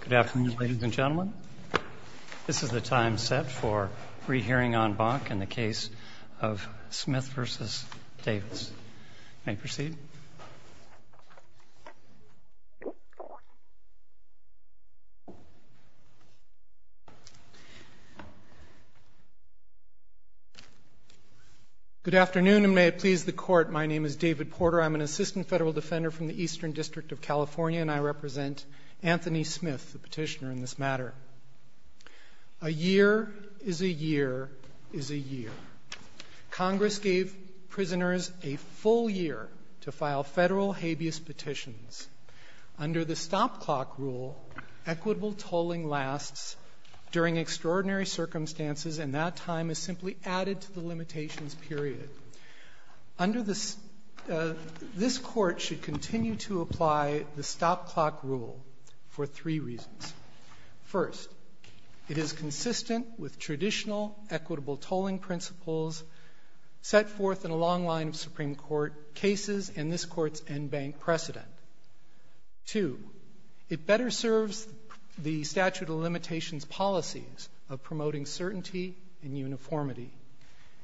Good afternoon, ladies and gentlemen. This is the time set for rehearing en banc in the case of Smith v. Davis. You may proceed. Good afternoon, and may it please the Court, my name is David Porter. I'm an assistant federal defender from the Eastern District of California, and I represent Anthony Smith, the petitioner in this matter. A year is a year is a year. Congress gave prisoners a full year to file federal habeas petitions. Under the stop clock rule, equitable tolling lasts during extraordinary circumstances, and that time is simply added to the limitations period. This Court should continue to apply the stop clock rule for three reasons. First, it is consistent with traditional equitable tolling principles set forth in a long line of Supreme Court cases and this Court's en banc precedent. Two, it better serves the statute of limitations policies of promoting certainty and uniformity.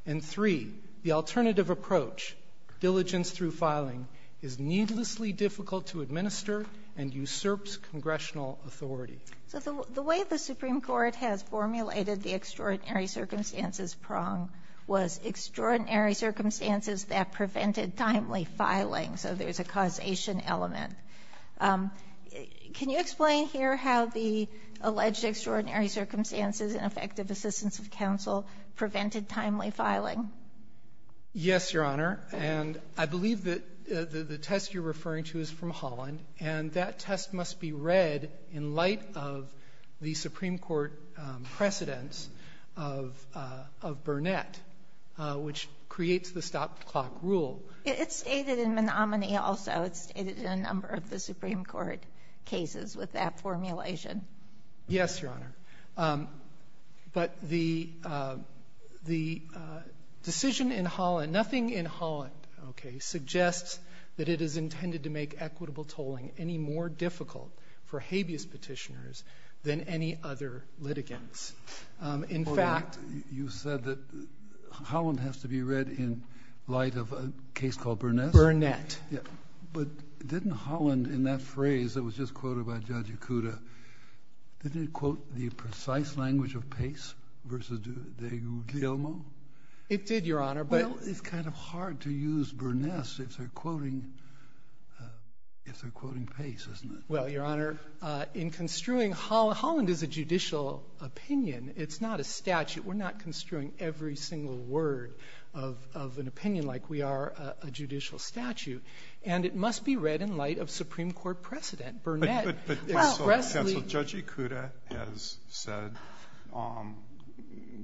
And three, the alternative approach, diligence through filing, is needlessly difficult to administer and usurps congressional authority. So the way the Supreme Court has formulated the extraordinary circumstances prong was extraordinary circumstances that prevented timely filing. So there's a causation element. Can you explain here how the alleged extraordinary circumstances and effective assistance of counsel prevented timely filing? Yes, Your Honor. And I believe that the test you're referring to is from Holland, and that test must be read in light of the Supreme Court precedence of Burnett, which creates the stop clock rule. It's stated in Menominee also. It's stated in a number of the Supreme Court cases with that formulation. Yes, Your Honor. But the decision in Holland, nothing in Holland, okay, suggests that it is intended to make equitable tolling any more difficult for habeas petitioners than any other litigants. In fact, you said that Holland has to be read in light of a case called Burnett. Burnett. But didn't Holland, in that phrase that was just quoted by Judge Ikuda, didn't it quote the precise language of Pace versus de Gilmo? It did, Your Honor. Well, it's kind of hard to use Burnett if they're quoting Pace, isn't it? Well, Your Honor, in construing Holland, Holland is a judicial opinion. It's not a statute. We're not construing every single word of an opinion like we are a judicial statute. And it must be read in light of Supreme Court precedent. Judge Ikuda has said,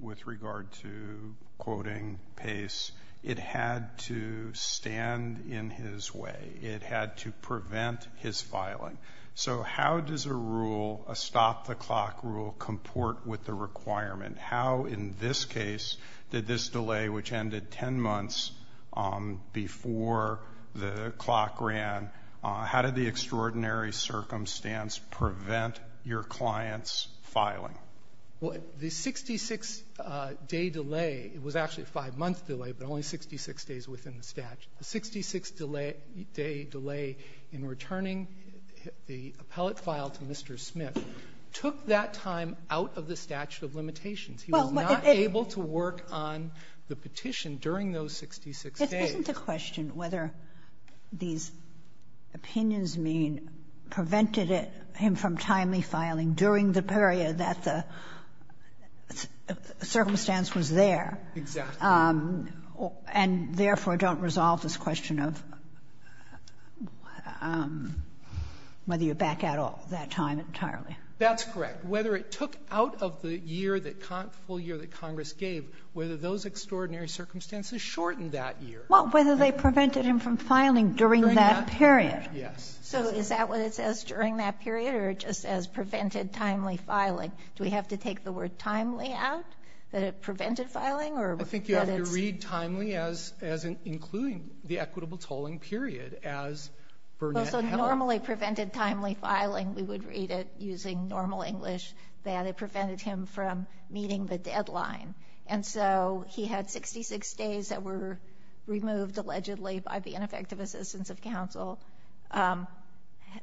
with regard to quoting Pace, it had to stand in his way. It had to prevent his filing. So how does a rule, a stop-the-clock rule, comport with the requirement? How, in this case, did this delay, which ended 10 months before the clock ran, how did the extraordinary circumstance prevent your client's filing? Well, the 66-day delay was actually a 5-month delay, but only 66 days within the statute. The 66-day delay in returning the appellate file to Mr. Smith took that time out of the statute of limitations. He was not able to work on the petition during those 66 days. Isn't the question whether these opinions mean prevented him from timely filing during the period that the circumstance was there? Exactly. And, therefore, don't resolve this question of whether you back out all that time entirely. That's correct. Whether it took out of the year, the full year that Congress gave, whether those extraordinary circumstances shortened that year. Well, whether they prevented him from filing during that period. During that period, yes. So is that what it says, during that period, or it just says prevented timely filing? Do we have to take the word timely out, that it prevented filing, or that it's? I think you have to read timely as including the equitable tolling period, as Burnett held. Well, so normally prevented timely filing, we would read it using normal English, that it prevented him from meeting the deadline. And so he had 66 days that were removed, allegedly, by the ineffective assistance of counsel.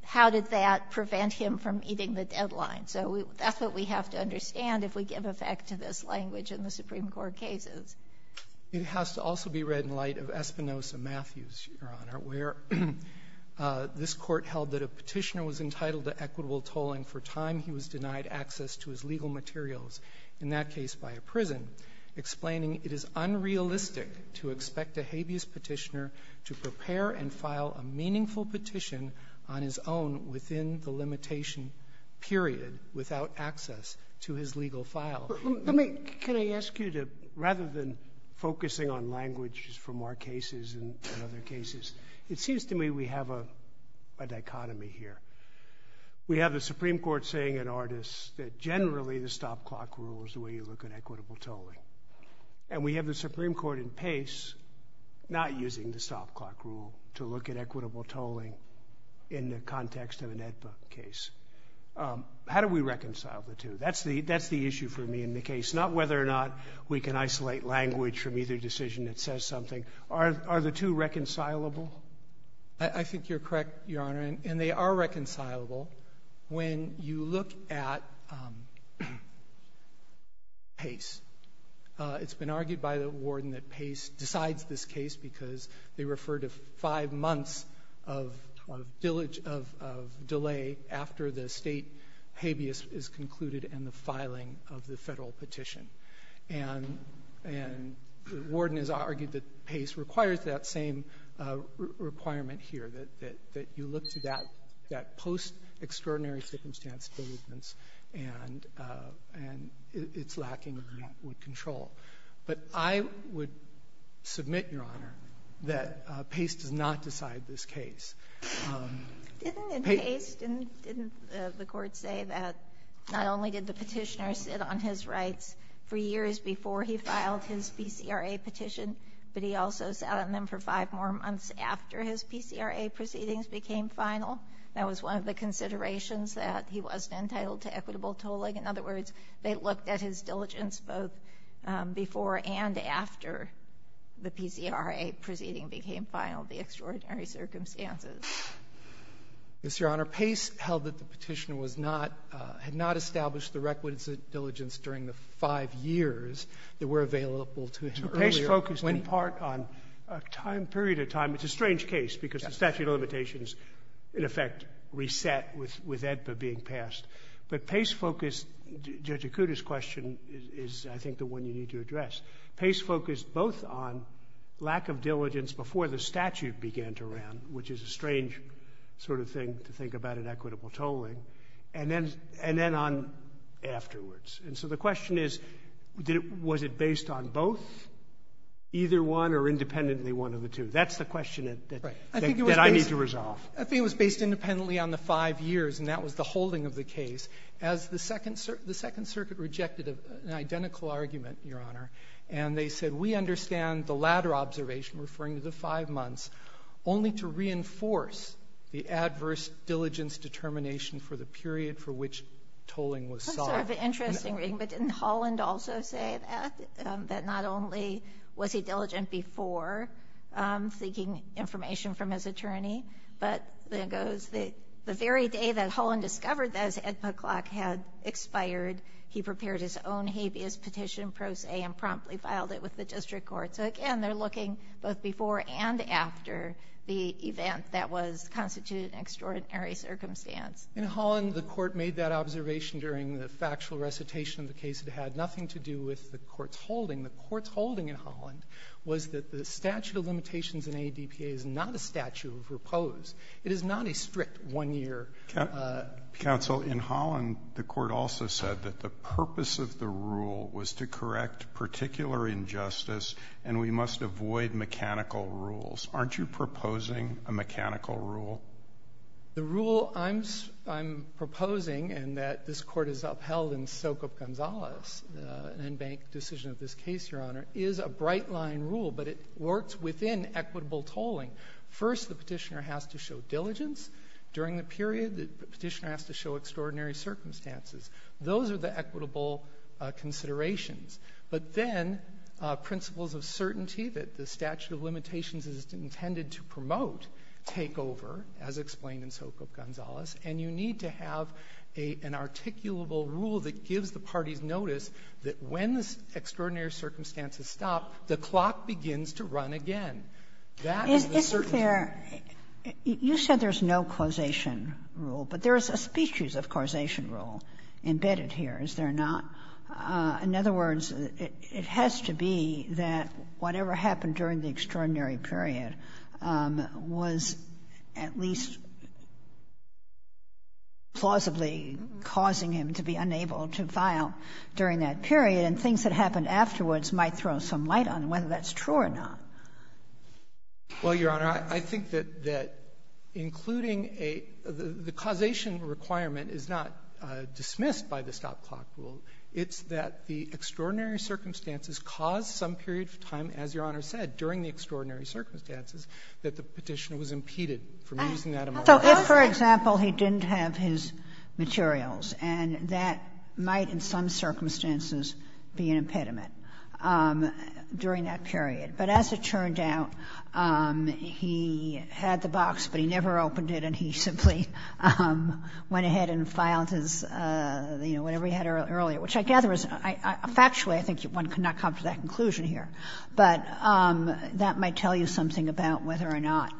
How did that prevent him from meeting the deadline? So that's what we have to understand if we give effect to this language in the Supreme Court cases. It has to also be read in light of Espinosa Matthews, Your Honor, where this court held that a petitioner was entitled to equitable tolling for time he was denied access to his legal materials. In that case, by a prison, explaining it is unrealistic to expect a habeas petitioner to prepare and file a meaningful petition on his own within the limitation period without access to his legal file. Let me, can I ask you to, rather than focusing on language from our cases and other cases, it seems to me we have a dichotomy here. We have the Supreme Court saying in Ardis that generally the stop clock rule is the way you look at equitable tolling. And we have the Supreme Court in Pace not using the stop clock rule to look at equitable tolling in the context of an AEDPA case. How do we reconcile the two? That's the issue for me in the case, not whether or not we can isolate language from either decision that says something. Are the two reconcilable? I think you're correct, Your Honor. And they are reconcilable when you look at Pace. It's been argued by the warden that Pace decides this case because they refer to five months of delay after the state habeas is concluded and the filing of the federal petition. And the warden has argued that Pace requires that same requirement here, that you look to that post-extraordinary-circumstance delay and it's lacking in that control. But I would submit, Your Honor, that Pace does not decide this case. Didn't Pace, didn't the Court say that not only did the petitioner sit on his rights for years before he filed his PCRA petition, but he also sat on them for five more months after his PCRA proceedings became final? That was one of the considerations that he wasn't entitled to equitable tolling. In other words, they looked at his diligence both before and after the PCRA proceeding became final, the extraordinary circumstances. Mr. Your Honor, Pace held that the petitioner was not, had not established the requisite diligence during the five years that were available to him earlier Pace focused in part on a time period of time. It's a strange case because the statute of limitations, in effect, reset with EDPA being passed. But Pace focused, Judge Acuda's question is, I think, the one you need to address. Pace focused both on lack of diligence before the statute began to round, which is a strange sort of thing to think about in equitable tolling, and then on afterwards. And so the question is, was it based on both, either one or independently one of the two? That's the question that I need to resolve. I think it was based independently on the five years, and that was the holding of the case. As the Second Circuit rejected an identical argument, Your Honor, and they said, we understand the latter observation, referring to the five months, only to reinforce the adverse diligence determination for the period for which tolling was solved. That's sort of an interesting reading. But didn't Holland also say that? That not only was he diligent before seeking information from his attorney, but there goes the very day that Holland discovered that his EDPA clock had expired, he prepared his own habeas petition pro se and promptly filed it with the district court. So, again, they're looking both before and after the event that was constituted in extraordinary circumstance. In Holland, the Court made that observation during the factual recitation of the case. It had nothing to do with the Court's holding. The Court's holding in Holland was that the statute of limitations in ADPA is not a statute of repose. It is not a strict one-year. Counsel, in Holland, the Court also said that the purpose of the rule was to correct particular injustice, and we must avoid mechanical rules. Aren't you proposing a mechanical rule? The rule I'm proposing, and that this Court has upheld in Sokup-Gonzalez, an in-bank decision of this case, Your Honor, is a bright-line rule, but it works within equitable tolling. First, the petitioner has to show diligence during the period. The petitioner has to show extraordinary circumstances. Those are the equitable considerations. But then principles of certainty that the statute of limitations is intended to correct, as explained in Sokup-Gonzalez. And you need to have an articulable rule that gives the parties notice that when the extraordinary circumstances stop, the clock begins to run again. That is the certainty. Kagan. You said there's no causation rule, but there is a species of causation rule embedded here, is there not? In other words, it has to be that whatever happened during the extraordinary period was at least plausibly causing him to be unable to file during that period, and things that happened afterwards might throw some light on whether that's true or not. Well, Your Honor, I think that including a — the causation requirement is not dismissed by the stop-clock rule. It's that the extraordinary circumstances cause some period of time, as Your Honor said, during the extraordinary circumstances, that the Petitioner was impeded from using that MRR. So if, for example, he didn't have his materials, and that might in some circumstances be an impediment during that period. But as it turned out, he had the box, but he never opened it, and he simply went ahead and filed his, you know, whatever he had earlier, which I gather is — factually, I think one cannot come to that conclusion here. But that might tell you something about whether or not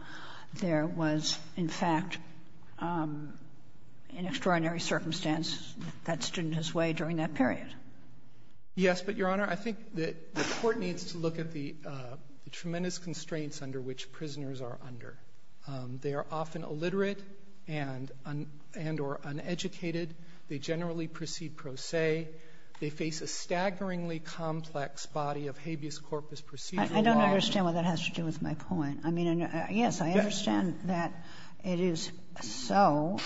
there was, in fact, an extraordinary circumstance that stood in his way during that period. Yes. But, Your Honor, I think the Court needs to look at the tremendous constraints under which prisoners are under. They are often illiterate and or uneducated. They generally proceed pro se. They face a staggeringly complex body of habeas corpus procedural law. I don't understand what that has to do with my point. I mean, yes, I understand that it is so,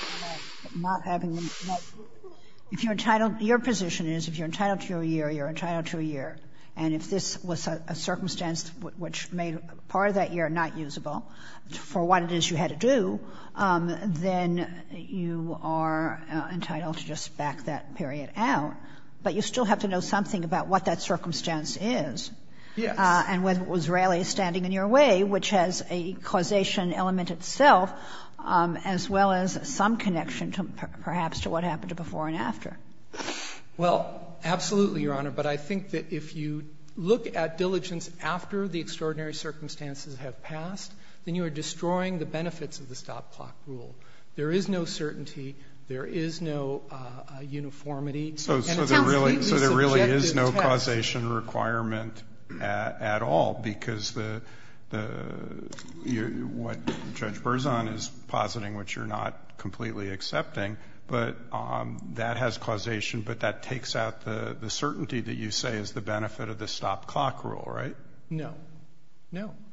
but not having the — if you're entitled — your position is if you're entitled to a year, you're entitled to a year. And if this was a circumstance which made part of that year not usable, for what it is you had to do, then you are entitled to just back that period out. But you still have to know something about what that circumstance is. Yes. And whether it was really standing in your way, which has a causation element itself, as well as some connection to perhaps to what happened before and after. Well, absolutely, Your Honor. But I think that if you look at diligence after the extraordinary circumstances have passed, then you are destroying the benefits of the stop-clock rule. There is no certainty. And it's a completely subjective test. So there really is no causation requirement at all because the — what Judge Berzon is positing, which you're not completely accepting, but that has causation, but that takes out the certainty that you say is the benefit of the stop-clock rule, right? No.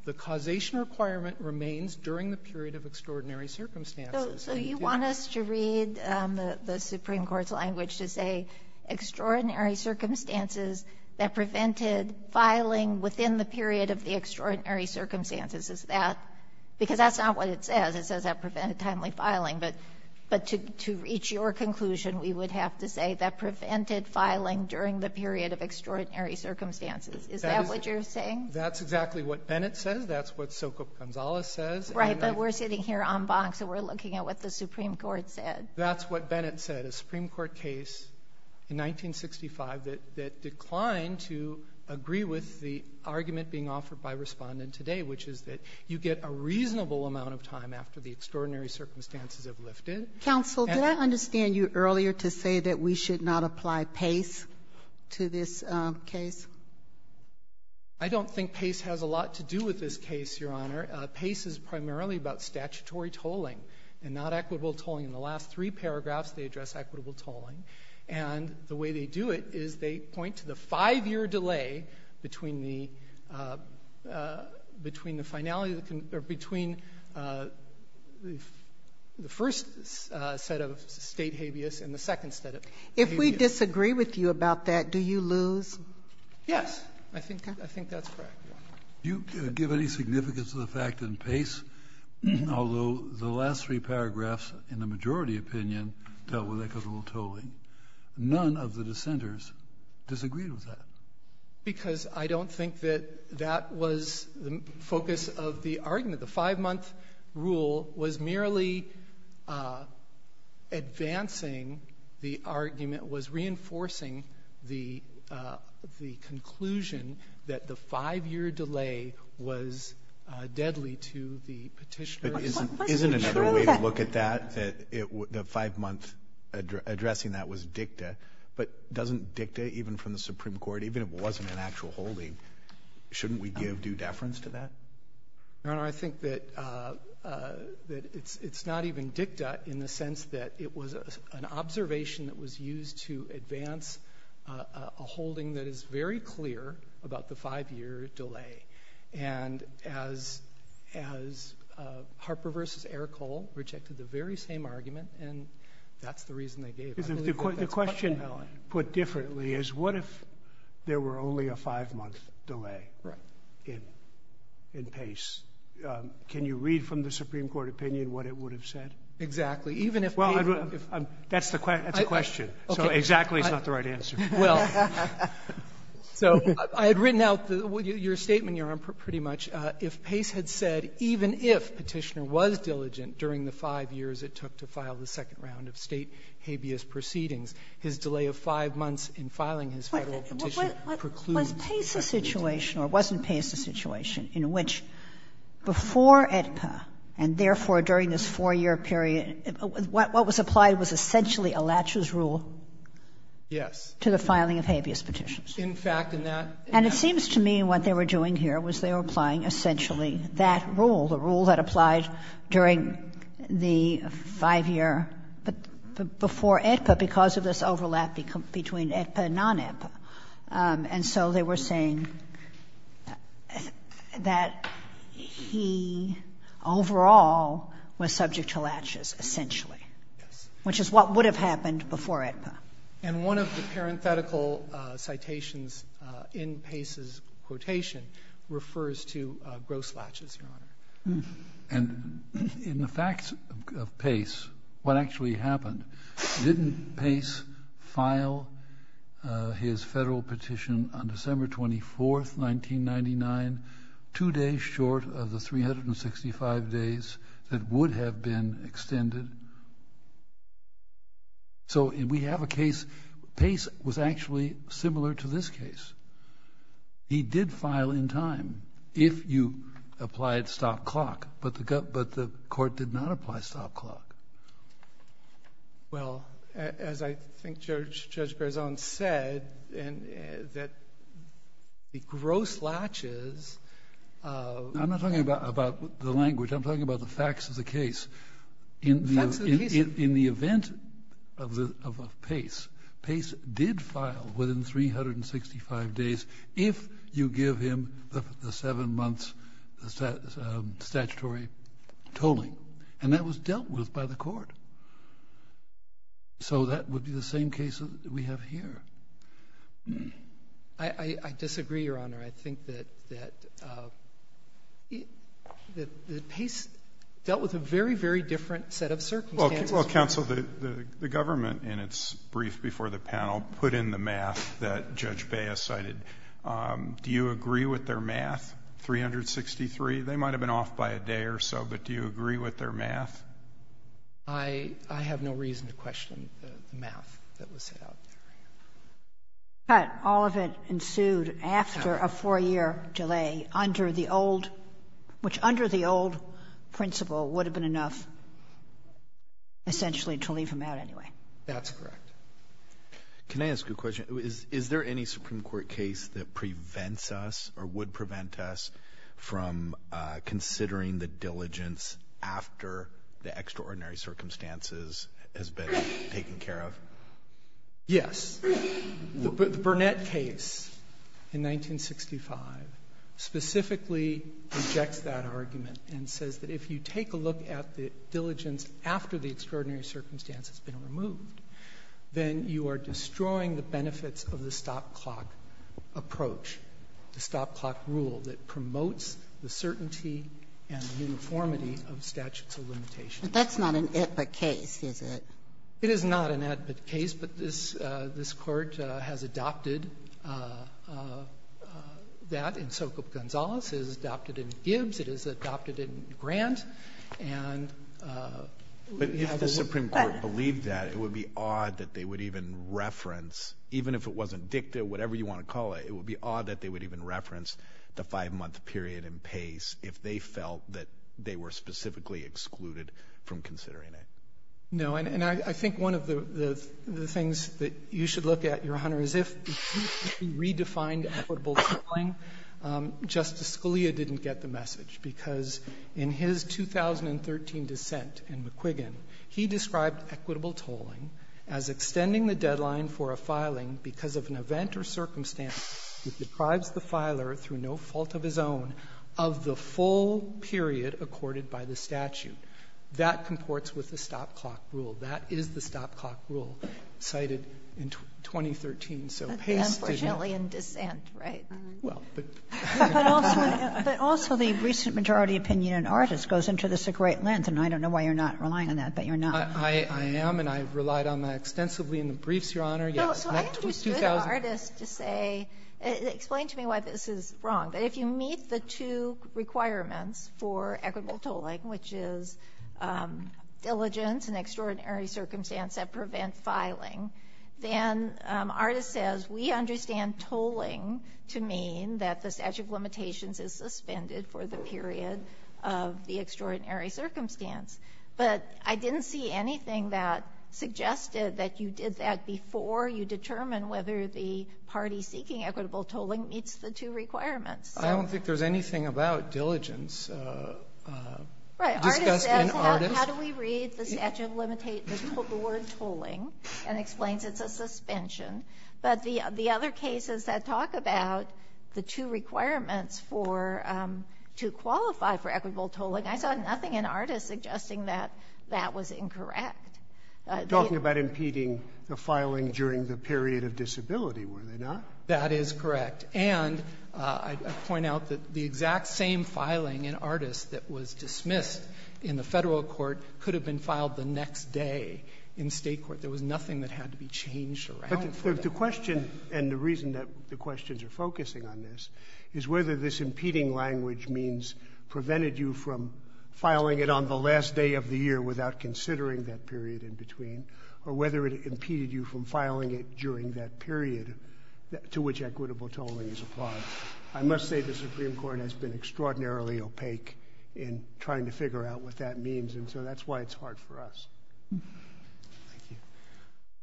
The causation requirement remains during the period of extraordinary circumstances. So you want us to read the Supreme Court's language to say extraordinary circumstances that prevented filing within the period of the extraordinary circumstances. Is that — because that's not what it says. It says that prevented timely filing. But to reach your conclusion, we would have to say that prevented filing during the period of extraordinary circumstances. Is that what you're saying? That's exactly what Bennett says. That's what Socop Gonzales says. Right, but we're sitting here on box and we're looking at what the Supreme Court said. That's what Bennett said. A Supreme Court case in 1965 that declined to agree with the argument being offered by Respondent today, which is that you get a reasonable amount of time after the extraordinary circumstances have lifted. Counsel, did I understand you earlier to say that we should not apply pace to this case? I don't think pace has a lot to do with this case, Your Honor. Pace is primarily about statutory tolling and not equitable tolling. In the last three paragraphs, they address equitable tolling. And the way they do it is they point to the five-year delay between the — between the finality — or between the first set of State habeas and the second set of habeas. If we disagree with you about that, do you lose? Yes, I think that's correct, Your Honor. Do you give any significance to the fact that in pace, although the last three paragraphs in the majority opinion dealt with equitable tolling, none of the dissenters disagreed with that? Because I don't think that that was the focus of the argument. The five-month rule was merely advancing the argument, was reinforcing the conclusion that the five-year delay was deadly to the petitioner. Isn't another way to look at that, that the five-month addressing that was dicta, but doesn't dicta, even from the Supreme Court, even if it wasn't an actual holding, shouldn't we give due deference to that? Your Honor, I think that it's not even dicta in the sense that it was an holding that is very clear about the five-year delay. And as Harper v. Eric Hole rejected the very same argument, and that's the reason they gave. The question put differently is, what if there were only a five-month delay in pace? Can you read from the Supreme Court opinion what it would have said? Exactly. Even if — Well, that's the question. So exactly is not the right answer. Well, so I had written out your statement, Your Honor, pretty much. If pace had said, even if Petitioner was diligent during the five years it took to file the second round of State habeas proceedings, his delay of five months in filing his Federal petition precludes — Was pace a situation, or wasn't pace a situation, in which before AEDPA, and therefore during this four-year period, what was applied was essentially a latcher's rule? Yes. To the filing of habeas petitions. In fact, in that — And it seems to me what they were doing here was they were applying essentially that rule, the rule that applied during the five-year — before AEDPA, because of this overlap between AEDPA and non-AEDPA. And so they were saying that he overall was subject to latches, essentially. Yes. Which is what would have happened before AEDPA. And one of the parenthetical citations in Pace's quotation refers to gross latches, Your Honor. And in the facts of pace, what actually happened? Didn't pace file his Federal petition on December 24th, 1999, two days short of the 365 days that would have been extended? So, and we have a case — Pace was actually similar to this case. He did file in time, if you applied stop clock. But the court did not apply stop clock. Well, as I think Judge Berzon said, that the gross latches — I'm not talking about the language. I'm talking about the facts of the case. In the event of Pace, Pace did file within 365 days, if you give him the seven months statutory tolling. And that was dealt with by the court. So that would be the same case that we have here. I disagree, Your Honor. I think that Pace dealt with a very, very different set of circumstances. Well, counsel, the government, in its brief before the panel, put in the math that Judge Bea cited. Do you agree with their math, 363? They might have been off by a day or so, but do you agree with their math? I have no reason to question the math that was set out there. But all of it ensued after a four-year delay under the old — which, under the old principle, would have been enough, essentially, to leave him out anyway. That's correct. Can I ask a question? Is there any Supreme Court case that prevents us, or would prevent us, from considering the diligence after the extraordinary circumstances has been taken care of? Yes. The Burnett case in 1965 specifically rejects that argument and says that if you take a look at the diligence after the extraordinary circumstance has been removed, then you are destroying the benefits of the stop-clock approach, the stop-clock rule that promotes the certainty and uniformity of statutes of limitation. But that's not an ad but case, is it? It is not an ad but case, but this Court has adopted that in Sokoop-Gonzalez, has adopted it in Gibbs, it has adopted it in Grant, and — But if the Supreme Court believed that, it would be odd that they would even reference — even if it wasn't dicta, whatever you want to call it — it would be odd that they would even reference the five-month period in Pace if they felt that they were specifically excluded from considering it. No. And I think one of the things that you should look at, Your Honor, is if you redefined equitable tolling, Justice Scalia didn't get the message because in his 2013 dissent in McQuiggan, he described equitable tolling as extending the deadline for a filing because of an event or circumstance that deprives the filer through no fault of his own of the full period accorded by the statute. That comports with the stop-clock rule. That is the stop-clock rule cited in 2013. So Pace did not — Unfortunately in dissent, right? Well, but — But also the recent majority opinion in Artis goes into this a great length, and I don't know why you're not relying on that, but you're not. I am, and I've relied on that extensively in the briefs, Your Honor. So I understood Artis to say — explain to me why this is wrong. If you meet the two requirements for equitable tolling, which is diligence and extraordinary circumstance that prevent filing, then Artis says, we understand tolling to mean that the statute of limitations is suspended for the period of the extraordinary circumstance. But I didn't see anything that suggested that you did that before you determined whether the party seeking equitable tolling meets the two requirements. I don't think there's anything about diligence discussed in Artis. Right. Artis says, how do we read the statute of limitation, the word tolling, and explains it's a suspension. But the other cases that talk about the two requirements for — to qualify for equitable tolling, I saw nothing in Artis suggesting that that was incorrect. Talking about impeding the filing during the period of disability, were they not? That is correct. And I point out that the exact same filing in Artis that was dismissed in the federal court could have been filed the next day in state court. There was nothing that had to be changed around for that. But the question, and the reason that the questions are focusing on this, is whether this impeding language means prevented you from filing it on the last day of the year without considering that period in between, or whether it impeded you from filing it during that period to which equitable tolling is applied. I must say the Supreme Court has been extraordinarily opaque in trying to figure out what that means, and so that's why it's hard for us. Thank you.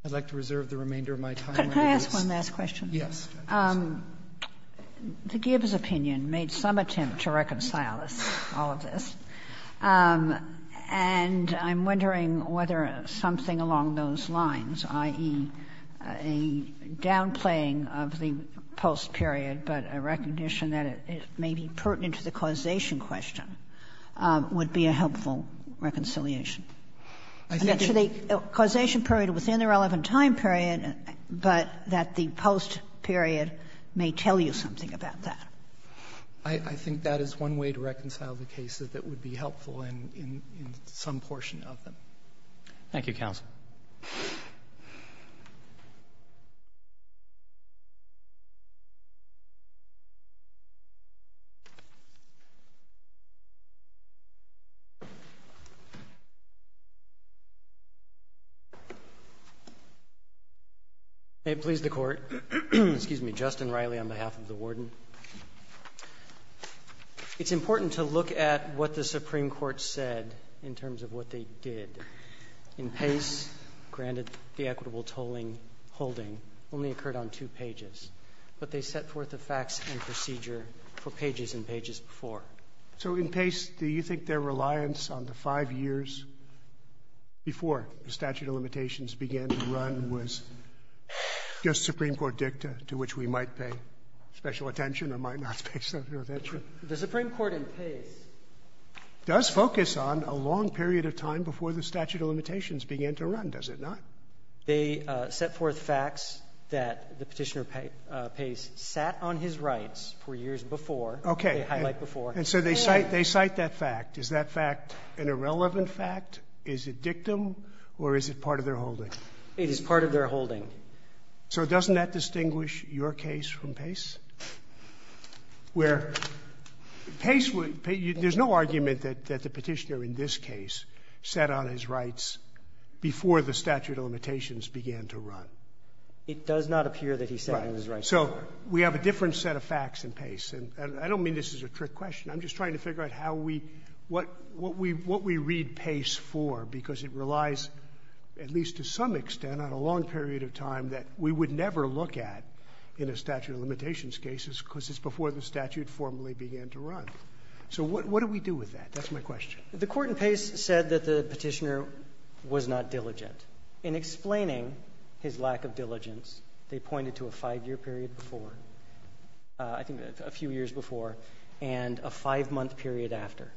I'd like to reserve the remainder of my time. Could I ask one last question? Yes. The Gibbs opinion made some attempt to reconcile us, all of this. And I'm wondering whether something along those lines, i.e., a downplaying of the post period, but a recognition that it may be pertinent to the causation question, would be a helpful reconciliation. I think that the causation period within the relevant time period, but that the post period may tell you something about that. I think that is one way to reconcile the cases that would be helpful in some portion of them. Thank you, counsel. May it please the Court. Excuse me. Justin Riley on behalf of the Warden. It's important to look at what the Supreme Court said in terms of what they did. In Pace, granted the equitable tolling holding, only occurred on two pages, but they set forth the facts and procedure for pages and pages before. So in Pace, do you think their reliance on the five years before the statute of limitations began to run was just Supreme Court dicta to which we might pay special attention or might not pay special attention? The Supreme Court in Pace does focus on a long period of time before the statute of limitations began to run, does it not? They set forth facts that the Petitioner, Pace, sat on his rights for years before. Okay. They highlight before. And so they cite that fact. Is that fact an irrelevant fact? Is it dictum, or is it part of their holding? It is part of their holding. So doesn't that distinguish your case from Pace? Where Pace would – there's no argument that the Petitioner in this case set on his rights before the statute of limitations began to run. It does not appear that he set on his rights before. Right. So we have a different set of facts in Pace. And I don't mean this as a trick question. I'm just trying to figure out how we – what we read Pace for, because it relies at least to some extent on a long period of time that we would never look at in a statute of limitations case because it's before the statute formally began to run. So what do we do with that? That's my question. The court in Pace said that the Petitioner was not diligent. In explaining his lack of diligence, they pointed to a five-year period before, I think a few years before, and a five-month period after.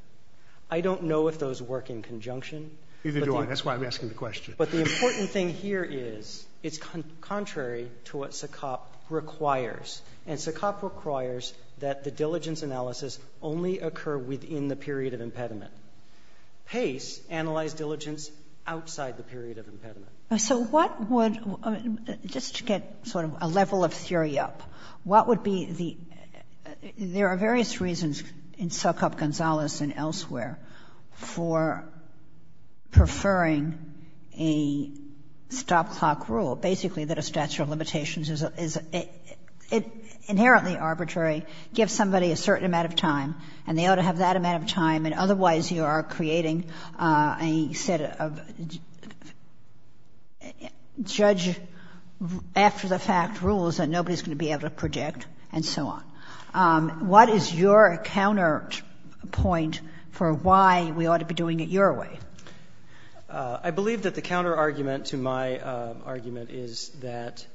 I don't know if those work in conjunction. Neither do I. That's why I'm asking the question. But the important thing here is it's contrary to what SACOP requires. And SACOP requires that the diligence analysis only occur within the period of impediment. Pace analyzed diligence outside the period of impediment. So what would – just to get sort of a level of theory up, what would be the – there are various reasons in SACOP-Gonzalez and elsewhere for preferring a stop-clock rule, basically that a statute of limitations is inherently arbitrary, gives somebody a certain amount of time, and they ought to have that amount of time, and otherwise you are creating a set of judge-after-the-fact rules that nobody's going to be able to predict, and so on. What is your counterpoint for why we ought to be doing it your way? I believe that the counterargument to my argument is that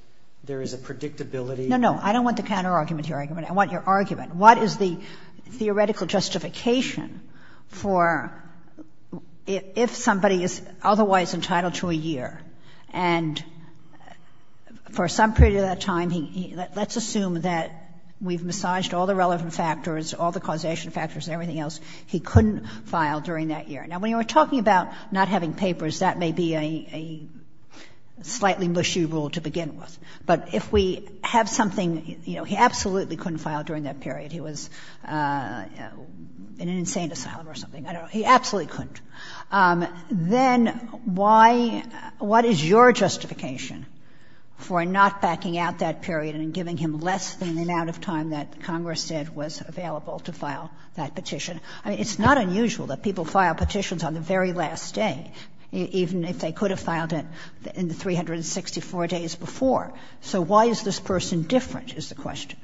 there is a predictability. No, no, I don't want the counterargument to your argument. I want your argument. What is the theoretical justification for if somebody is otherwise entitled to a year and for some period of that time, let's assume that we've massaged all the relevant factors, all the causation factors and everything else, he couldn't file during that year. Now, when you are talking about not having papers, that may be a slightly mushy rule to begin with. But if we have something, you know, he absolutely couldn't file during that period. He was in an insane asylum or something. I don't know. He absolutely couldn't. Then why — what is your justification for not backing out that period and giving him less than the amount of time that Congress said was available to file that petition? I mean, it's not unusual that people file petitions on the very last day, even if they could have filed it in the 364 days before. So why is this person different, is the question.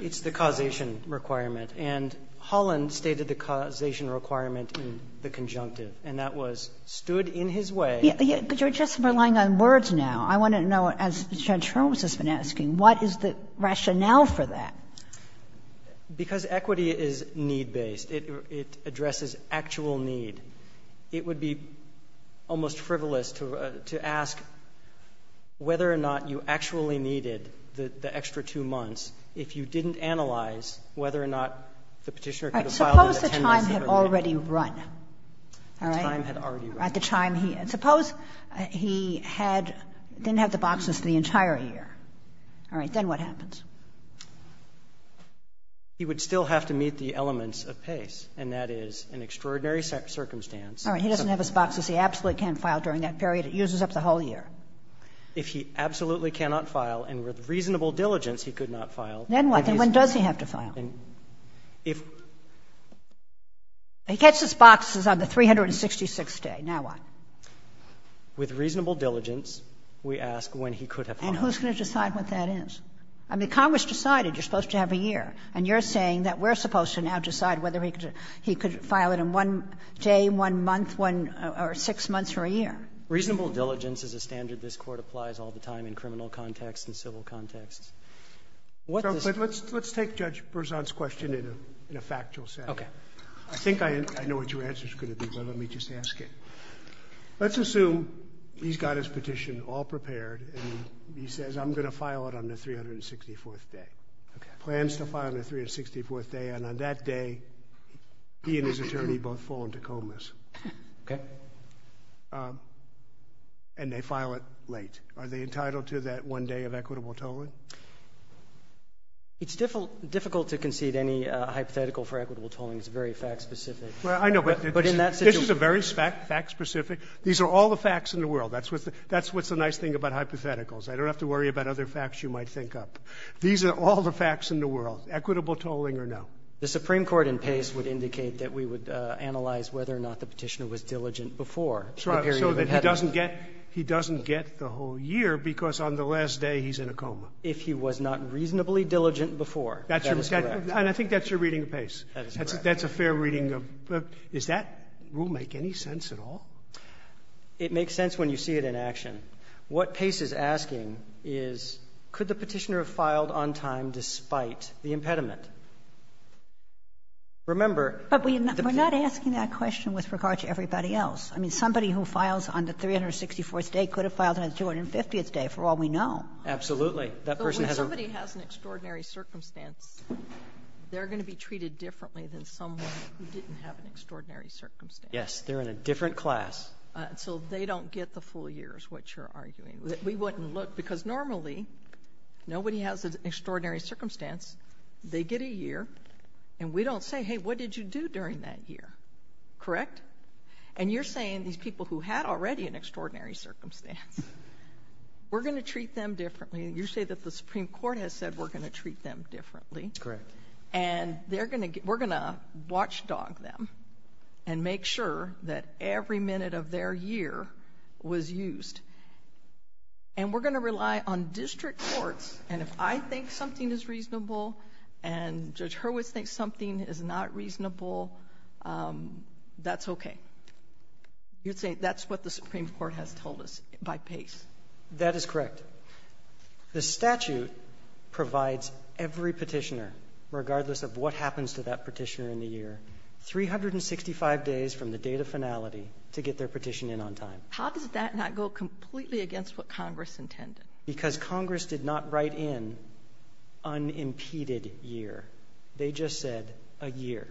It's the causation requirement. And Holland stated the causation requirement in the conjunctive. And that was, stood in his way. But you're just relying on words now. I want to know, as Judge Holmes has been asking, what is the rationale for that? Because equity is need-based. It addresses actual need. It would be almost frivolous to ask whether or not you actually needed the extra two months if you didn't analyze whether or not the Petitioner could have filed it at 10 months earlier. All right. Suppose the time had already run. The time had already run. Suppose he had — didn't have the boxes for the entire year. All right. Then what happens? He would still have to meet the elements of PACE, and that is an extraordinary circumstance. All right. He doesn't have his boxes. He absolutely can't file during that period. It uses up the whole year. If he absolutely cannot file, and with reasonable diligence he could not file, then he's going to have to file. Then what? Then when does he have to file? If he gets his boxes on the 366th day, now what? With reasonable diligence, we ask when he could have filed. And who's going to decide what that is? I mean, Congress decided you're supposed to have a year, and you're saying that we're supposed to now decide whether he could file it in one day, one month, or six months or a year. Reasonable diligence is a standard this Court applies all the time in criminal contexts and civil contexts. What does — Let's take Judge Berzon's question in a factual sense. Okay. I think I know what your answer is going to be, but let me just ask it. Let's assume he's got his petition all prepared, and he says, I'm going to file it on the 364th day. Okay. Plans to file on the 364th day, and on that day, he and his attorney both fall into Okay. And they file it late. Are they entitled to that one day of equitable tolling? It's difficult to concede any hypothetical for equitable tolling. It's very fact-specific. Well, I know, but this is a very fact-specific. These are all the facts in the world. That's what's the nice thing about hypotheticals. I don't have to worry about other facts you might think up. These are all the facts in the world, equitable tolling or no. The Supreme Court in Pace would indicate that we would analyze whether or not the petitioner was diligent before the period of impediment. So that he doesn't get the whole year because on the last day, he's in a coma. If he was not reasonably diligent before. That is correct. And I think that's your reading of Pace. That is correct. That's a fair reading. Does that rule make any sense at all? It makes sense when you see it in action. What Pace is asking is, could the Petitioner have filed on time despite the impediment? Remember, the Petitioner. I mean, somebody who files on the 364th day could have filed on the 250th day, for all we know. Absolutely. That person has a room. But when somebody has an extraordinary circumstance, they're going to be treated differently than someone who didn't have an extraordinary circumstance. Yes. They're in a different class. So they don't get the full year is what you're arguing. We wouldn't look. Because normally, nobody has an extraordinary circumstance. They get a year. And we don't say, hey, what did you do during that year? Correct? And you're saying these people who had already an extraordinary circumstance, we're going to treat them differently. And you say that the Supreme Court has said we're going to treat them differently. Correct. And we're going to watchdog them and make sure that every minute of their year was used. And we're going to rely on district courts. And if I think something is reasonable and Judge Hurwitz thinks something is not reasonable, that's okay. You're saying that's what the Supreme Court has told us by pace. That is correct. The statute provides every petitioner, regardless of what happens to that petitioner in the year, 365 days from the date of finality to get their petition in on time. How does that not go completely against what Congress intended? Because Congress did not write in unimpeded year. They just said a year.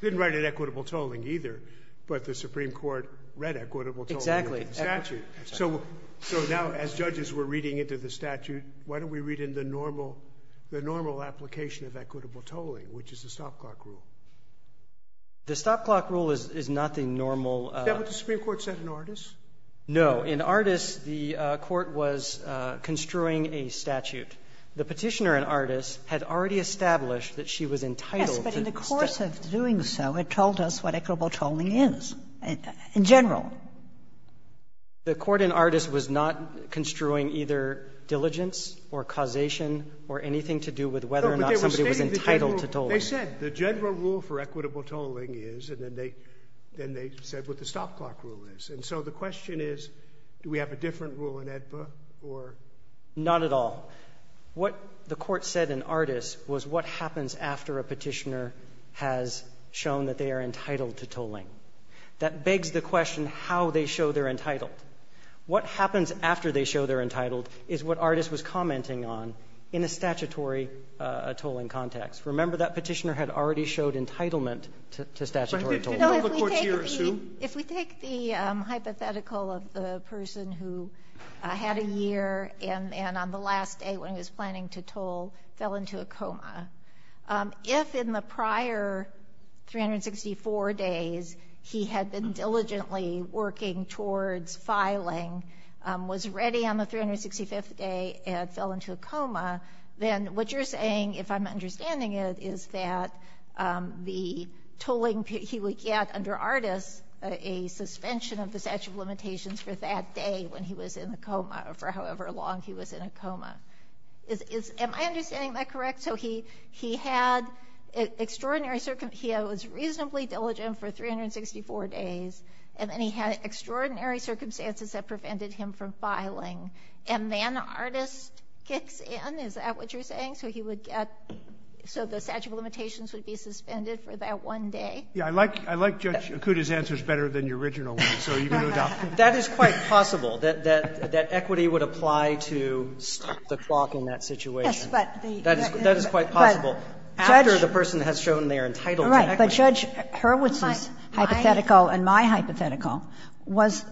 Didn't write in equitable tolling either, but the Supreme Court read equitable tolling in the statute. Exactly. So now as judges, we're reading into the statute. Why don't we read in the normal application of equitable tolling, which is the stop clock rule? The stop clock rule is not the normal. Is that what the Supreme Court said in Ardis? No. In Ardis, the court was construing a statute. The petitioner in Ardis had already established that she was entitled to the statute. Yes, but in the course of doing so, it told us what equitable tolling is in general. The court in Ardis was not construing either diligence or causation or anything to do with whether or not somebody was entitled to tolling. No, but they were stating the general rule. They said the general rule for equitable tolling is, and then they said what the stop clock rule is. And so the question is, do we have a different rule in AEDPA or? Not at all. What the court said in Ardis was what happens after a petitioner has shown that they are entitled to tolling. That begs the question how they show they're entitled. What happens after they show they're entitled is what Ardis was commenting on in a statutory tolling context. Remember, that petitioner had already showed entitlement to statutory tolling. If we take the hypothetical of the person who had a year and on the last day when he was planning to toll, fell into a coma, if in the prior 364 days he had been diligently working towards filing, was ready on the 365th day and fell into a coma, then what you're saying, if I'm understanding it, is that the tolling he would get under Ardis a suspension of the statute of limitations for that day when he was in a coma or for however long he was in a coma. Am I understanding that correct? So he had extraordinary circumstances. He was reasonably diligent for 364 days, and then he had extraordinary circumstances that prevented him from filing. And then Ardis kicks in. Is that what you're saying? So he would get, so the statute of limitations would be suspended for that one day? Yeah, I like Judge Akuta's answers better than your original ones, so you can adopt them. That is quite possible, that equity would apply to stop the clock in that situation. That is quite possible after the person has shown they are entitled to equity. But Judge Hurwitz's hypothetical and my hypothetical was,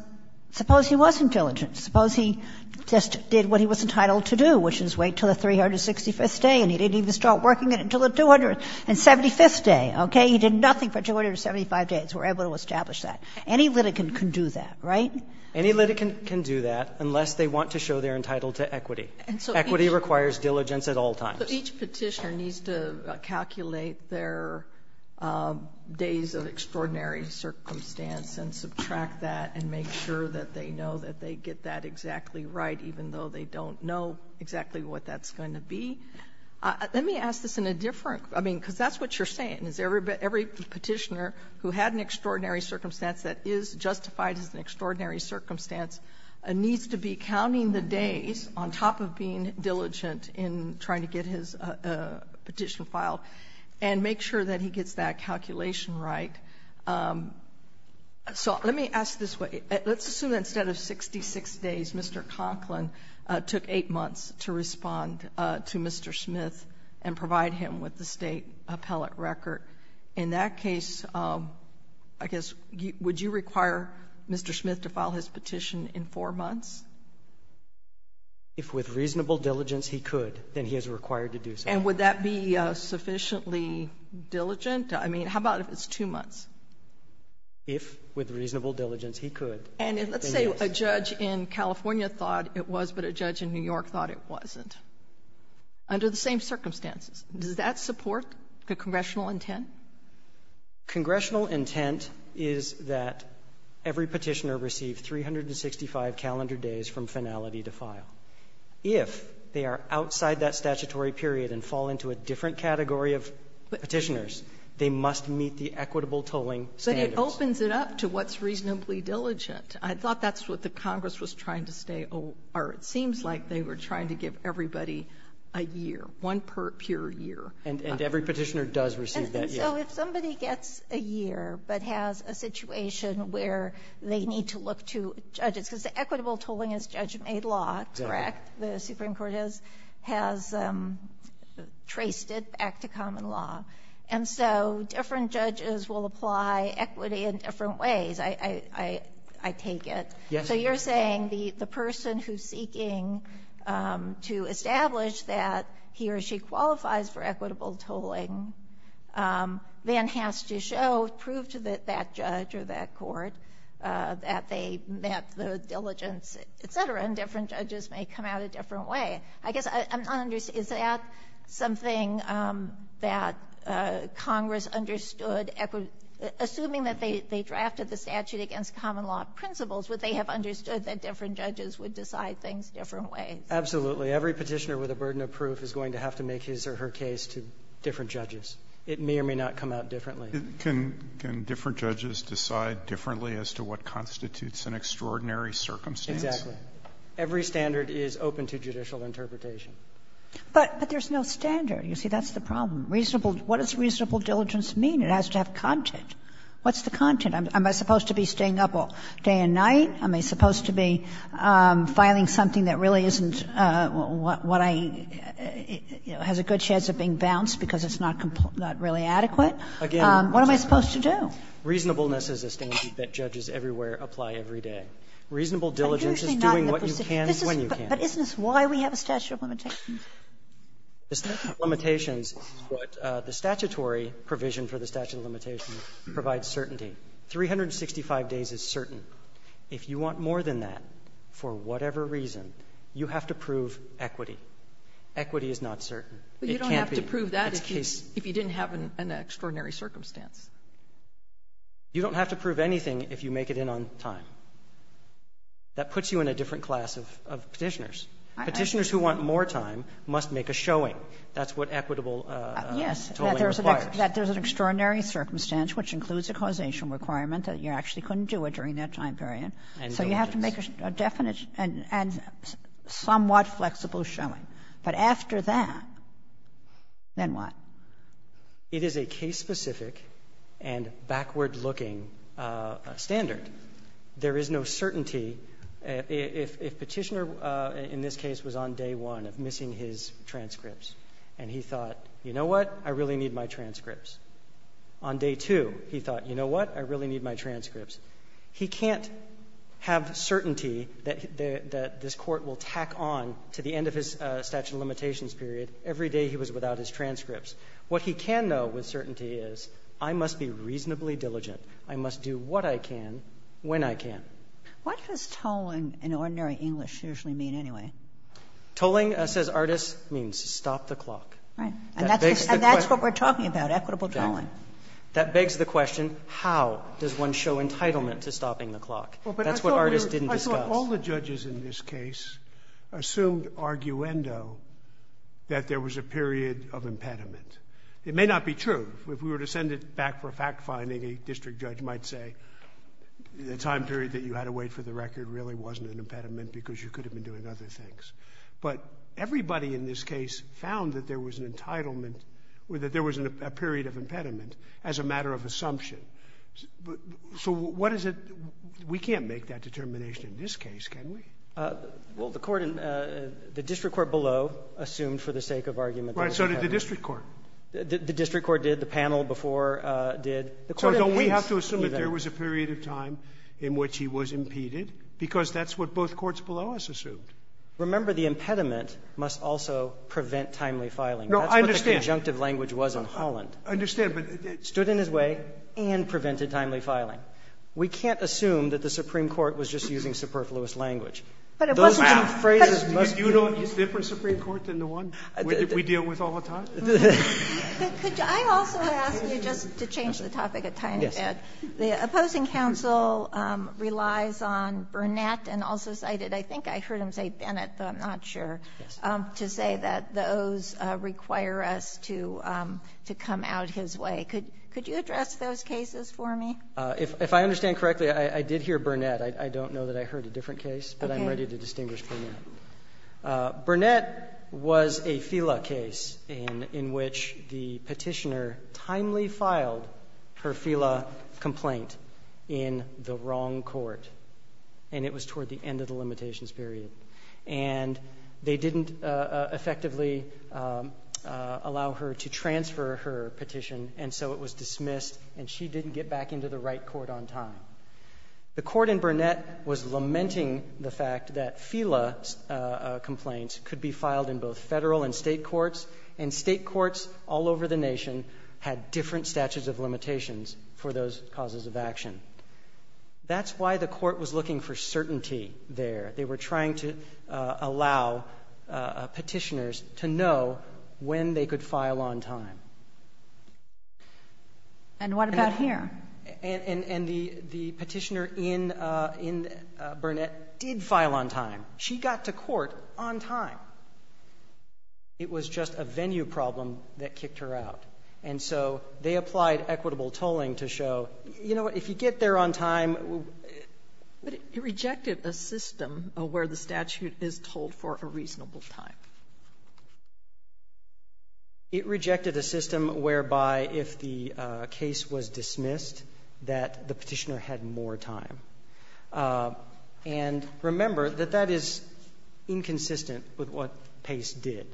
suppose he was intelligent. Suppose he just did what he was entitled to do, which is wait until the 365th day and he didn't even start working it until the 275th day, okay? He did nothing for 275 days. We're able to establish that. Any litigant can do that, right? Any litigant can do that unless they want to show they're entitled to equity. Equity requires diligence at all times. So each Petitioner needs to calculate their days of extraordinary circumstance and subtract that and make sure that they know that they get that exactly right, even though they don't know exactly what that's going to be. Let me ask this in a different, I mean, because that's what you're saying. Every Petitioner who had an extraordinary circumstance that is justified as an extraordinary circumstance needs to be counting the days on top of being diligent in trying to get his petition filed and make sure that he gets that calculation right. So let me ask this way. Let's assume that instead of 66 days, Mr. Conklin took 8 months to respond to Mr. Smith and provide him with the state appellate record. In that case, I guess, would you require Mr. Smith to file his petition in 4 months? If with reasonable diligence he could, then he is required to do so. And would that be sufficiently diligent? I mean, how about if it's 2 months? If with reasonable diligence he could. And let's say a judge in California thought it was, but a judge in New York thought it wasn't. Under the same circumstances, does that support the congressional intent? Congressional intent is that every Petitioner receive 365 calendar days from finality to file. If they are outside that statutory period and fall into a different category of Petitioners, they must meet the equitable tolling standards. But it opens it up to what's reasonably diligent. I thought that's what the Congress was trying to stay aware of. It seems like they were trying to give everybody a year, one per year. And every Petitioner does receive that year. So if somebody gets a year but has a situation where they need to look to judges because the equitable tolling is judge-made law, correct? The Supreme Court has traced it back to common law. And so different judges will apply equity in different ways. I take it. Yes. So you're saying the person who's seeking to establish that he or she qualifies for equitable tolling then has to show, prove to that judge or that court that they met the diligence, et cetera, and different judges may come out a different way. I guess I'm not understanding. Is that something that Congress understood, assuming that they drafted the statute against common law principles, would they have understood that different judges would decide things different ways? Absolutely. Every Petitioner with a burden of proof is going to have to make his or her case to different judges. It may or may not come out differently. Can different judges decide differently as to what constitutes an extraordinary circumstance? Every standard is open to judicial interpretation. But there's no standard. You see, that's the problem. Reasonable, what does reasonable diligence mean? It has to have content. What's the content? Am I supposed to be staying up all day and night? Am I supposed to be filing something that really isn't what I, you know, has a good chance of being bounced because it's not really adequate? What am I supposed to do? Reasonableness is a standard that judges everywhere apply every day. Reasonable diligence is doing what you can when you can. But isn't this why we have a statute of limitations? The statute of limitations is what the statutory provision for the statute of limitations provides certainty. 365 days is certain. If you want more than that for whatever reason, you have to prove equity. Equity is not certain. It can't be. But you don't have to prove that if you didn't have an extraordinary circumstance. You don't have to prove anything if you make it in on time. That puts you in a different class of Petitioners. Petitioners who want more time must make a showing. That's what equitable tolling requires. Yes. That there's an extraordinary circumstance which includes a causation requirement that you actually couldn't do it during that time period. And diligence. So you have to make a definite and somewhat flexible showing. But after that, then what? It is a case-specific and backward-looking standard. There is no certainty. If Petitioner in this case was on day one of missing his transcripts and he thought, you know what? I really need my transcripts. On day two, he thought, you know what? I really need my transcripts. He can't have certainty that this Court will tack on to the end of his statute of limitations period every day he was without his transcripts. What he can know with certainty is I must be reasonably diligent. I must do what I can when I can. What does tolling in ordinary English usually mean anyway? Tolling, says Artis, means stop the clock. Right. And that's what we're talking about, equitable tolling. That begs the question, how does one show entitlement to stopping the clock? That's what Artis didn't discuss. I thought all the judges in this case assumed arguendo that there was a period of impediment. It may not be true. If we were to send it back for fact-finding, a district judge might say the time period that you had to wait for the record really wasn't an impediment because you could have been doing other things. But everybody in this case found that there was an entitlement or that there was a period of impediment as a matter of assumption. So what is it? We can't make that determination in this case, can we? Well, the Court in the district court below assumed for the sake of argument. So did the district court. The district court did. The panel before did. So don't we have to assume that there was a period of time in which he was impeded because that's what both courts below us assumed? Remember, the impediment must also prevent timely filing. No, I understand. That's what the conjunctive language was in Holland. I understand. Stood in his way and prevented timely filing. We can't assume that the Supreme Court was just using superfluous language. Those two phrases must be used. Do you know a different Supreme Court than the one we deal with all the time? Could I also ask you just to change the topic a tiny bit? The opposing counsel relies on Burnett and also cited, I think I heard him say Bennett, but I'm not sure, to say that those require us to come out his way. Could you address those cases for me? If I understand correctly, I did hear Burnett. I don't know that I heard a different case, but I'm ready to distinguish Burnett. Burnett was a FELA case in which the petitioner timely filed her FELA complaint in the wrong court, and it was toward the end of the limitations period. And they didn't effectively allow her to transfer her petition, and so it was dismissed, and she didn't get back into the right court on time. The court in Burnett was lamenting the fact that FELA complaints could be filed in both federal and state courts, and state courts all over the nation had different statutes of limitations for those causes of action. That's why the court was looking for certainty there. They were trying to allow petitioners to know when they could file on time. And what about here? And the petitioner in Burnett did file on time. She got to court on time. It was just a venue problem that kicked her out. And so they applied equitable tolling to show, you know what, if you get there on time. But it rejected a system where the statute is tolled for a reasonable time. It rejected a system whereby if the case was dismissed, that the petitioner had more time. And remember that that is inconsistent with what Pace did.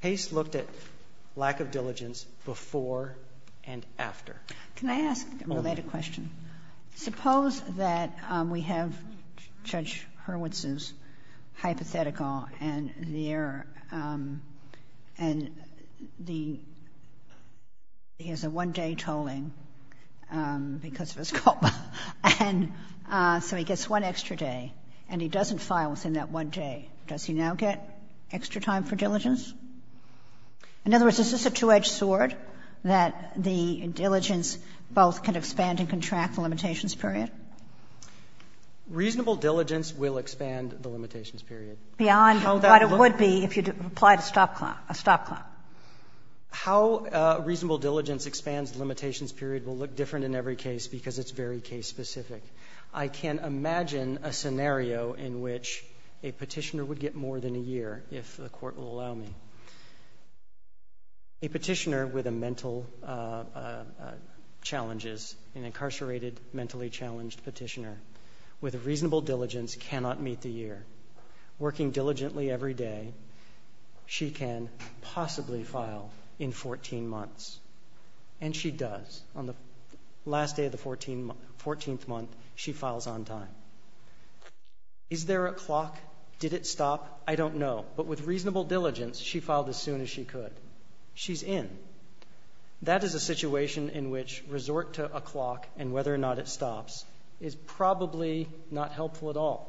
Pace looked at lack of diligence before and after. Can I ask a related question? Suppose that we have Judge Hurwitz's hypothetical and the error, and he has a one-day tolling because of his coma, and so he gets one extra day, and he doesn't file within that one day. Does he now get extra time for diligence? In other words, is this a two-edged sword, that the diligence both can expand and contract the limitations period? Reasonable diligence will expand the limitations period. Beyond what it would be if you applied a stop clock, a stop clock. How reasonable diligence expands the limitations period will look different in every case because it's very case-specific. I can imagine a scenario in which a petitioner would get more than a year, if the A petitioner with mental challenges, an incarcerated, mentally challenged petitioner, with reasonable diligence cannot meet the year. Working diligently every day, she can possibly file in 14 months. And she does. On the last day of the 14th month, she files on time. Is there a clock? Did it stop? I don't know. But with reasonable diligence, she filed as soon as she could. She's in. That is a situation in which resort to a clock, and whether or not it stops, is probably not helpful at all.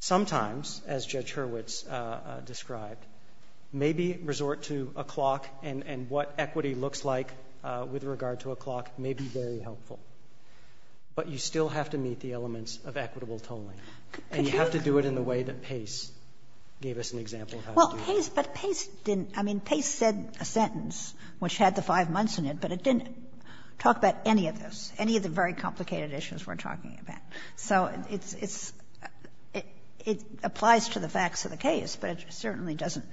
Sometimes, as Judge Hurwitz described, maybe resort to a clock, and what equity looks like with regard to a clock may be very helpful. But you still have to meet the elements of equitable tolling, and you have to do it in the way that Pace gave us an example of how to do it. Well, but Pace didn't. I mean, Pace said a sentence which had the 5 months in it, but it didn't talk about any of this, any of the very complicated issues we're talking about. So it's, it's, it applies to the facts of the case, but it certainly doesn't,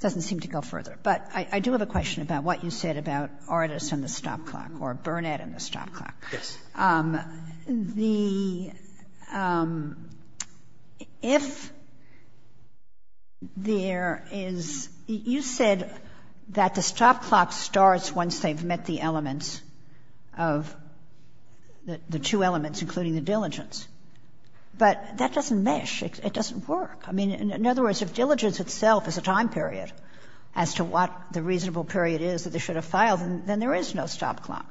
doesn't seem to go further. But I do have a question about what you said about artists and the stop clock or Burnett and the stop clock. Yes. The, if there is, you said that the stop clock starts once they've met the elements of the two elements, including the diligence. But that doesn't mesh. It doesn't work. I mean, in other words, if diligence itself is a time period as to what the reasonable period is that they should have filed, then there is no stop clock.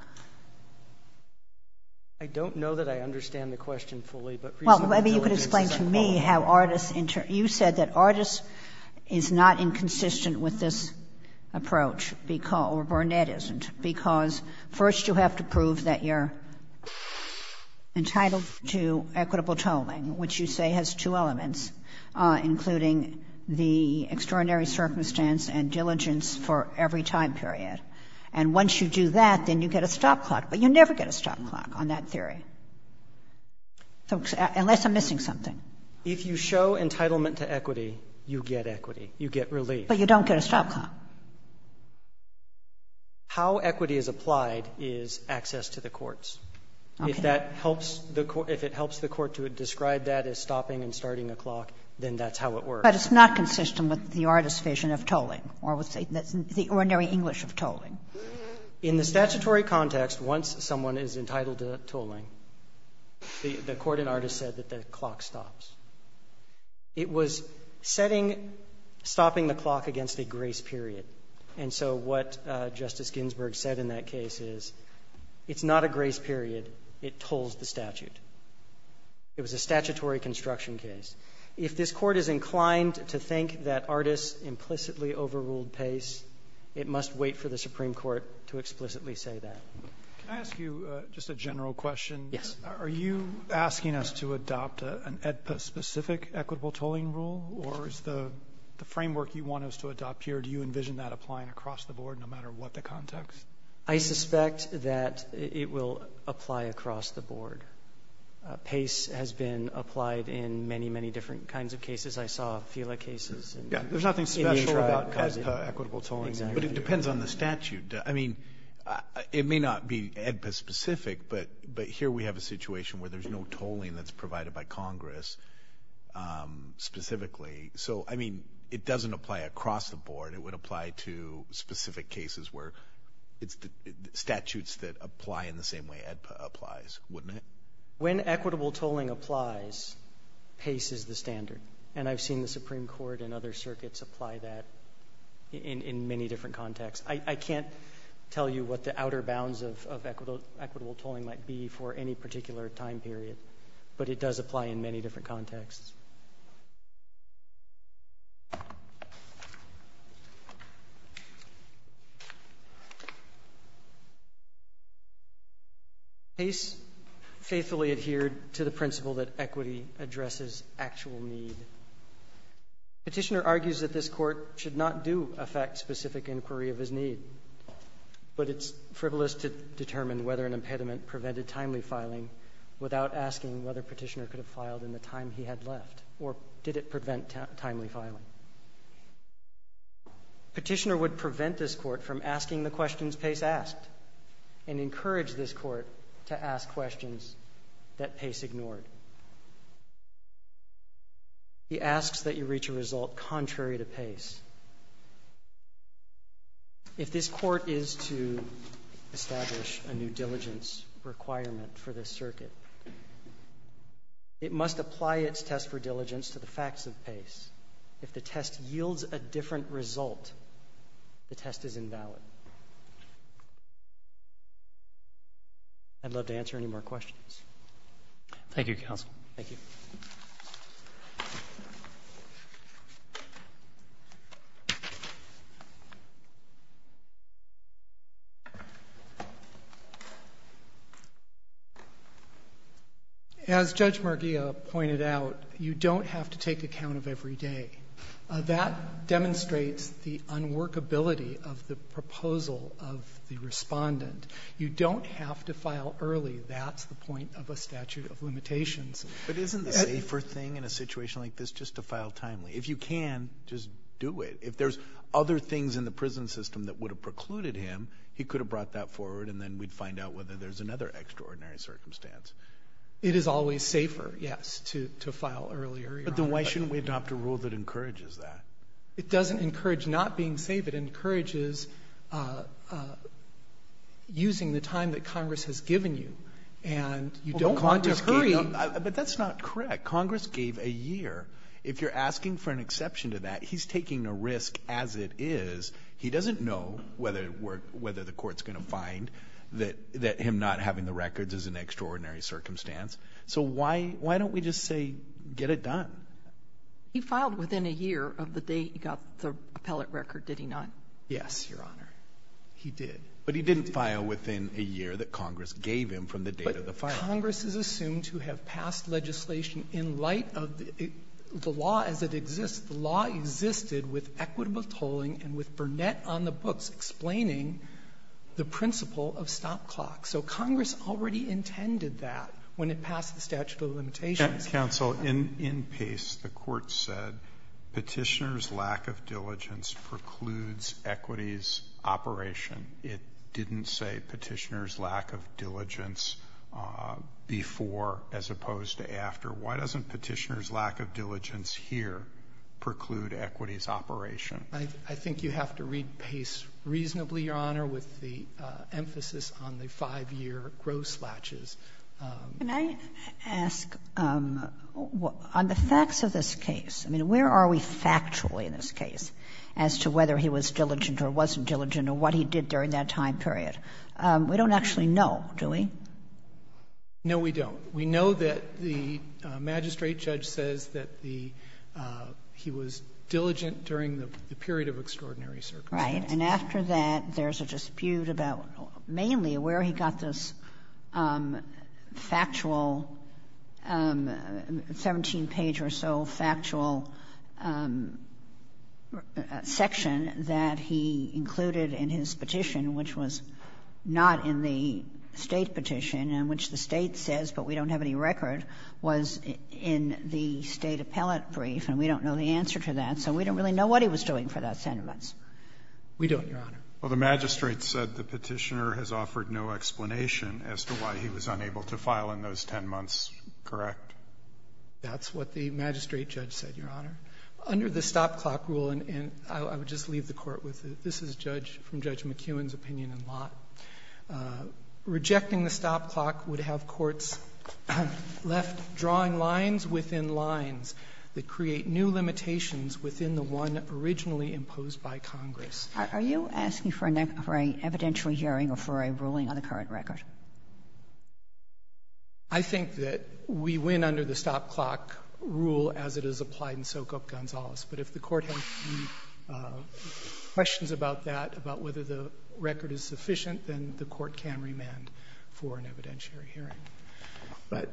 I don't know that I understand the question fully, but reasonable diligence is a time period. Well, maybe you could explain to me how artists, you said that artists is not inconsistent with this approach, or Burnett isn't, because first you have to prove that you're entitled to equitable tolling, which you say has two elements, including the extraordinary circumstance and diligence for every time period. And once you do that, then you get a stop clock. But you never get a stop clock on that theory, unless I'm missing something. If you show entitlement to equity, you get equity. You get relief. But you don't get a stop clock. How equity is applied is access to the courts. Okay. If that helps the court, if it helps the court to describe that as stopping and starting a clock, then that's how it works. But it's not consistent with the artist's vision of tolling, or with the ordinary English of tolling. In the statutory context, once someone is entitled to tolling, the court and artist said that the clock stops. It was setting, stopping the clock against a grace period. And so what Justice Ginsburg said in that case is it's not a grace period, it tolls the statute. It was a statutory construction case. If this court is inclined to think that artists implicitly overruled PACE, it must wait for the Supreme Court to explicitly say that. Can I ask you just a general question? Yes. Are you asking us to adopt an AEDPA-specific equitable tolling rule, or is the framework you want us to adopt here, do you envision that applying across the board, no matter I suspect that it will apply across the board. PACE has been applied in many, many different kinds of cases. I saw FILA cases. There's nothing special about AEDPA equitable tolling, but it depends on the statute. I mean, it may not be AEDPA-specific, but here we have a situation where there's no tolling that's provided by Congress specifically. So, I mean, it doesn't apply across the board. It would apply to specific cases where it's statutes that apply in the same way AEDPA applies, wouldn't it? When equitable tolling applies, PACE is the standard. And I've seen the Supreme Court and other circuits apply that in many different contexts. I can't tell you what the outer bounds of equitable tolling might be for any particular time period, but it does apply in many different contexts. PACE faithfully adhered to the principle that equity addresses actual need. Petitioner argues that this court should not do affect specific inquiry of his need, but it's frivolous to determine whether an impediment prevented timely filing without asking whether Petitioner could have filed in the time he had left or did it prevent timely filing. Petitioner would prevent this court from asking the questions PACE asked and encourage this court to ask questions that PACE ignored. He asks that you reach a result contrary to PACE. If this court is to establish a new diligence requirement for this circuit, it must apply its test for diligence to the facts of PACE. If the test yields a different result, the test is invalid. I'd love to answer any more questions. Thank you, counsel. Thank you. As Judge Marghia pointed out, you don't have to take account of every day. That demonstrates the unworkability of the proposal of the Respondent. You don't have to file early. That's the point of a statute of limitations. But isn't the safer thing in a situation like this just to file timely? If you can, just do it. If there's other things in the prison system that would have precluded him, he could have brought that forward and then we'd find out whether there's another extraordinary circumstance. It is always safer, yes, to file earlier. But then why shouldn't we adopt a rule that encourages that? It doesn't encourage not being safe. It encourages using the time that Congress has given you. But that's not correct. Congress gave a year. If you're asking for an exception to that, he's taking a risk as it is. He doesn't know whether the court's going to find that him not having the records is an extraordinary circumstance. So why don't we just say get it done? He filed within a year of the date he got the appellate record, did he not? Yes, Your Honor, he did. But he didn't file within a year that Congress gave him from the date of the filing. But Congress has assumed to have passed legislation in light of the law as it exists. The law existed with equitable tolling and with Burnett on the books explaining the principle of stop clocks. So Congress already intended that when it passed the statute of limitations. Counsel, in Pace, the court said Petitioner's lack of diligence precludes equity's operation. It didn't say Petitioner's lack of diligence before as opposed to after. Why doesn't Petitioner's lack of diligence here preclude equity's operation? I think you have to read Pace reasonably, Your Honor, with the emphasis on the 5-year gross latches. Can I ask, on the facts of this case, I mean, where are we factually in this case as to whether he was diligent or wasn't diligent or what he did during that time period? We don't actually know, do we? No, we don't. We know that the magistrate judge says that the he was diligent during the period of extraordinary circumstances. Right. And after that, there's a dispute about mainly where he got this factual 17-page or so factual section that he included in his petition, which was not in the State petition and which the State says, but we don't have any record, was in the State appellate brief, and we don't know the answer to that, so we don't really know what he was doing for those 10 months. We don't, Your Honor. Well, the magistrate said the Petitioner has offered no explanation as to why he was diligent. The magistrate judge said, Your Honor. Under the stop clock rule, and I would just leave the Court with it. This is from Judge McKeown's opinion in Lott. Rejecting the stop clock would have courts left drawing lines within lines that create new limitations within the one originally imposed by Congress. Are you asking for an evidentiary hearing or for a ruling on the current record? I think that we win under the stop clock rule as it is applied in Sokop-Gonzalez. But if the Court has questions about that, about whether the record is sufficient, then the Court can remand for an evidentiary hearing. But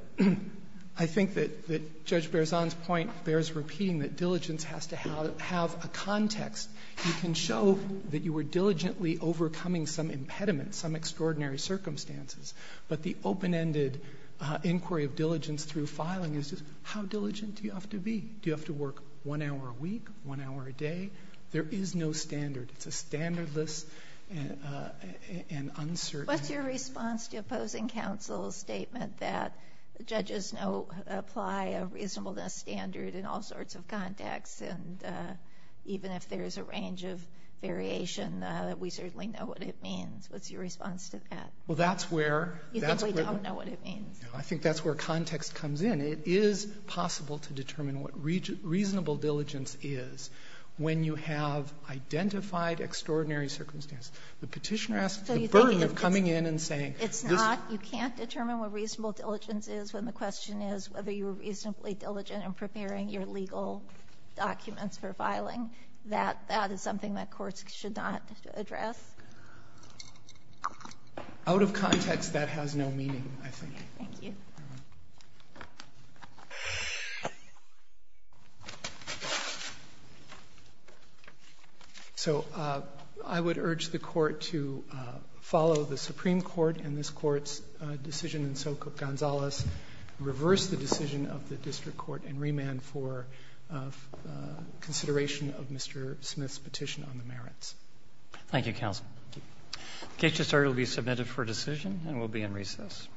I think that Judge Berzon's point bears repeating that diligence has to have a context. You can show that you were diligently overcoming some impediment, some extraordinary circumstances, but the open-ended inquiry of diligence through filing is just, how diligent do you have to be? Do you have to work one hour a week, one hour a day? There is no standard. It's a standardless and uncertain. What's your response to opposing counsel's statement that judges apply a reasonableness standard in all sorts of contexts? And even if there's a range of variation, we certainly know what it means. What's your response to that? You think we don't know what it means? I think that's where context comes in. It is possible to determine what reasonable diligence is when you have identified extraordinary circumstances. The Petitioner asks the burden of coming in and saying this. It's not. You can't determine what reasonable diligence is when the question is whether you were reasonably diligent in preparing your legal documents for filing. That is something that courts should not address. Out of context, that has no meaning, I think. Thank you. So I would urge the Court to follow the Supreme Court and this Court's decision in Sokup-Gonzalez, reverse the decision of the district court, and remand for consideration Thank you, counsel. The case to start will be submitted for decision and will be in recess. All rise.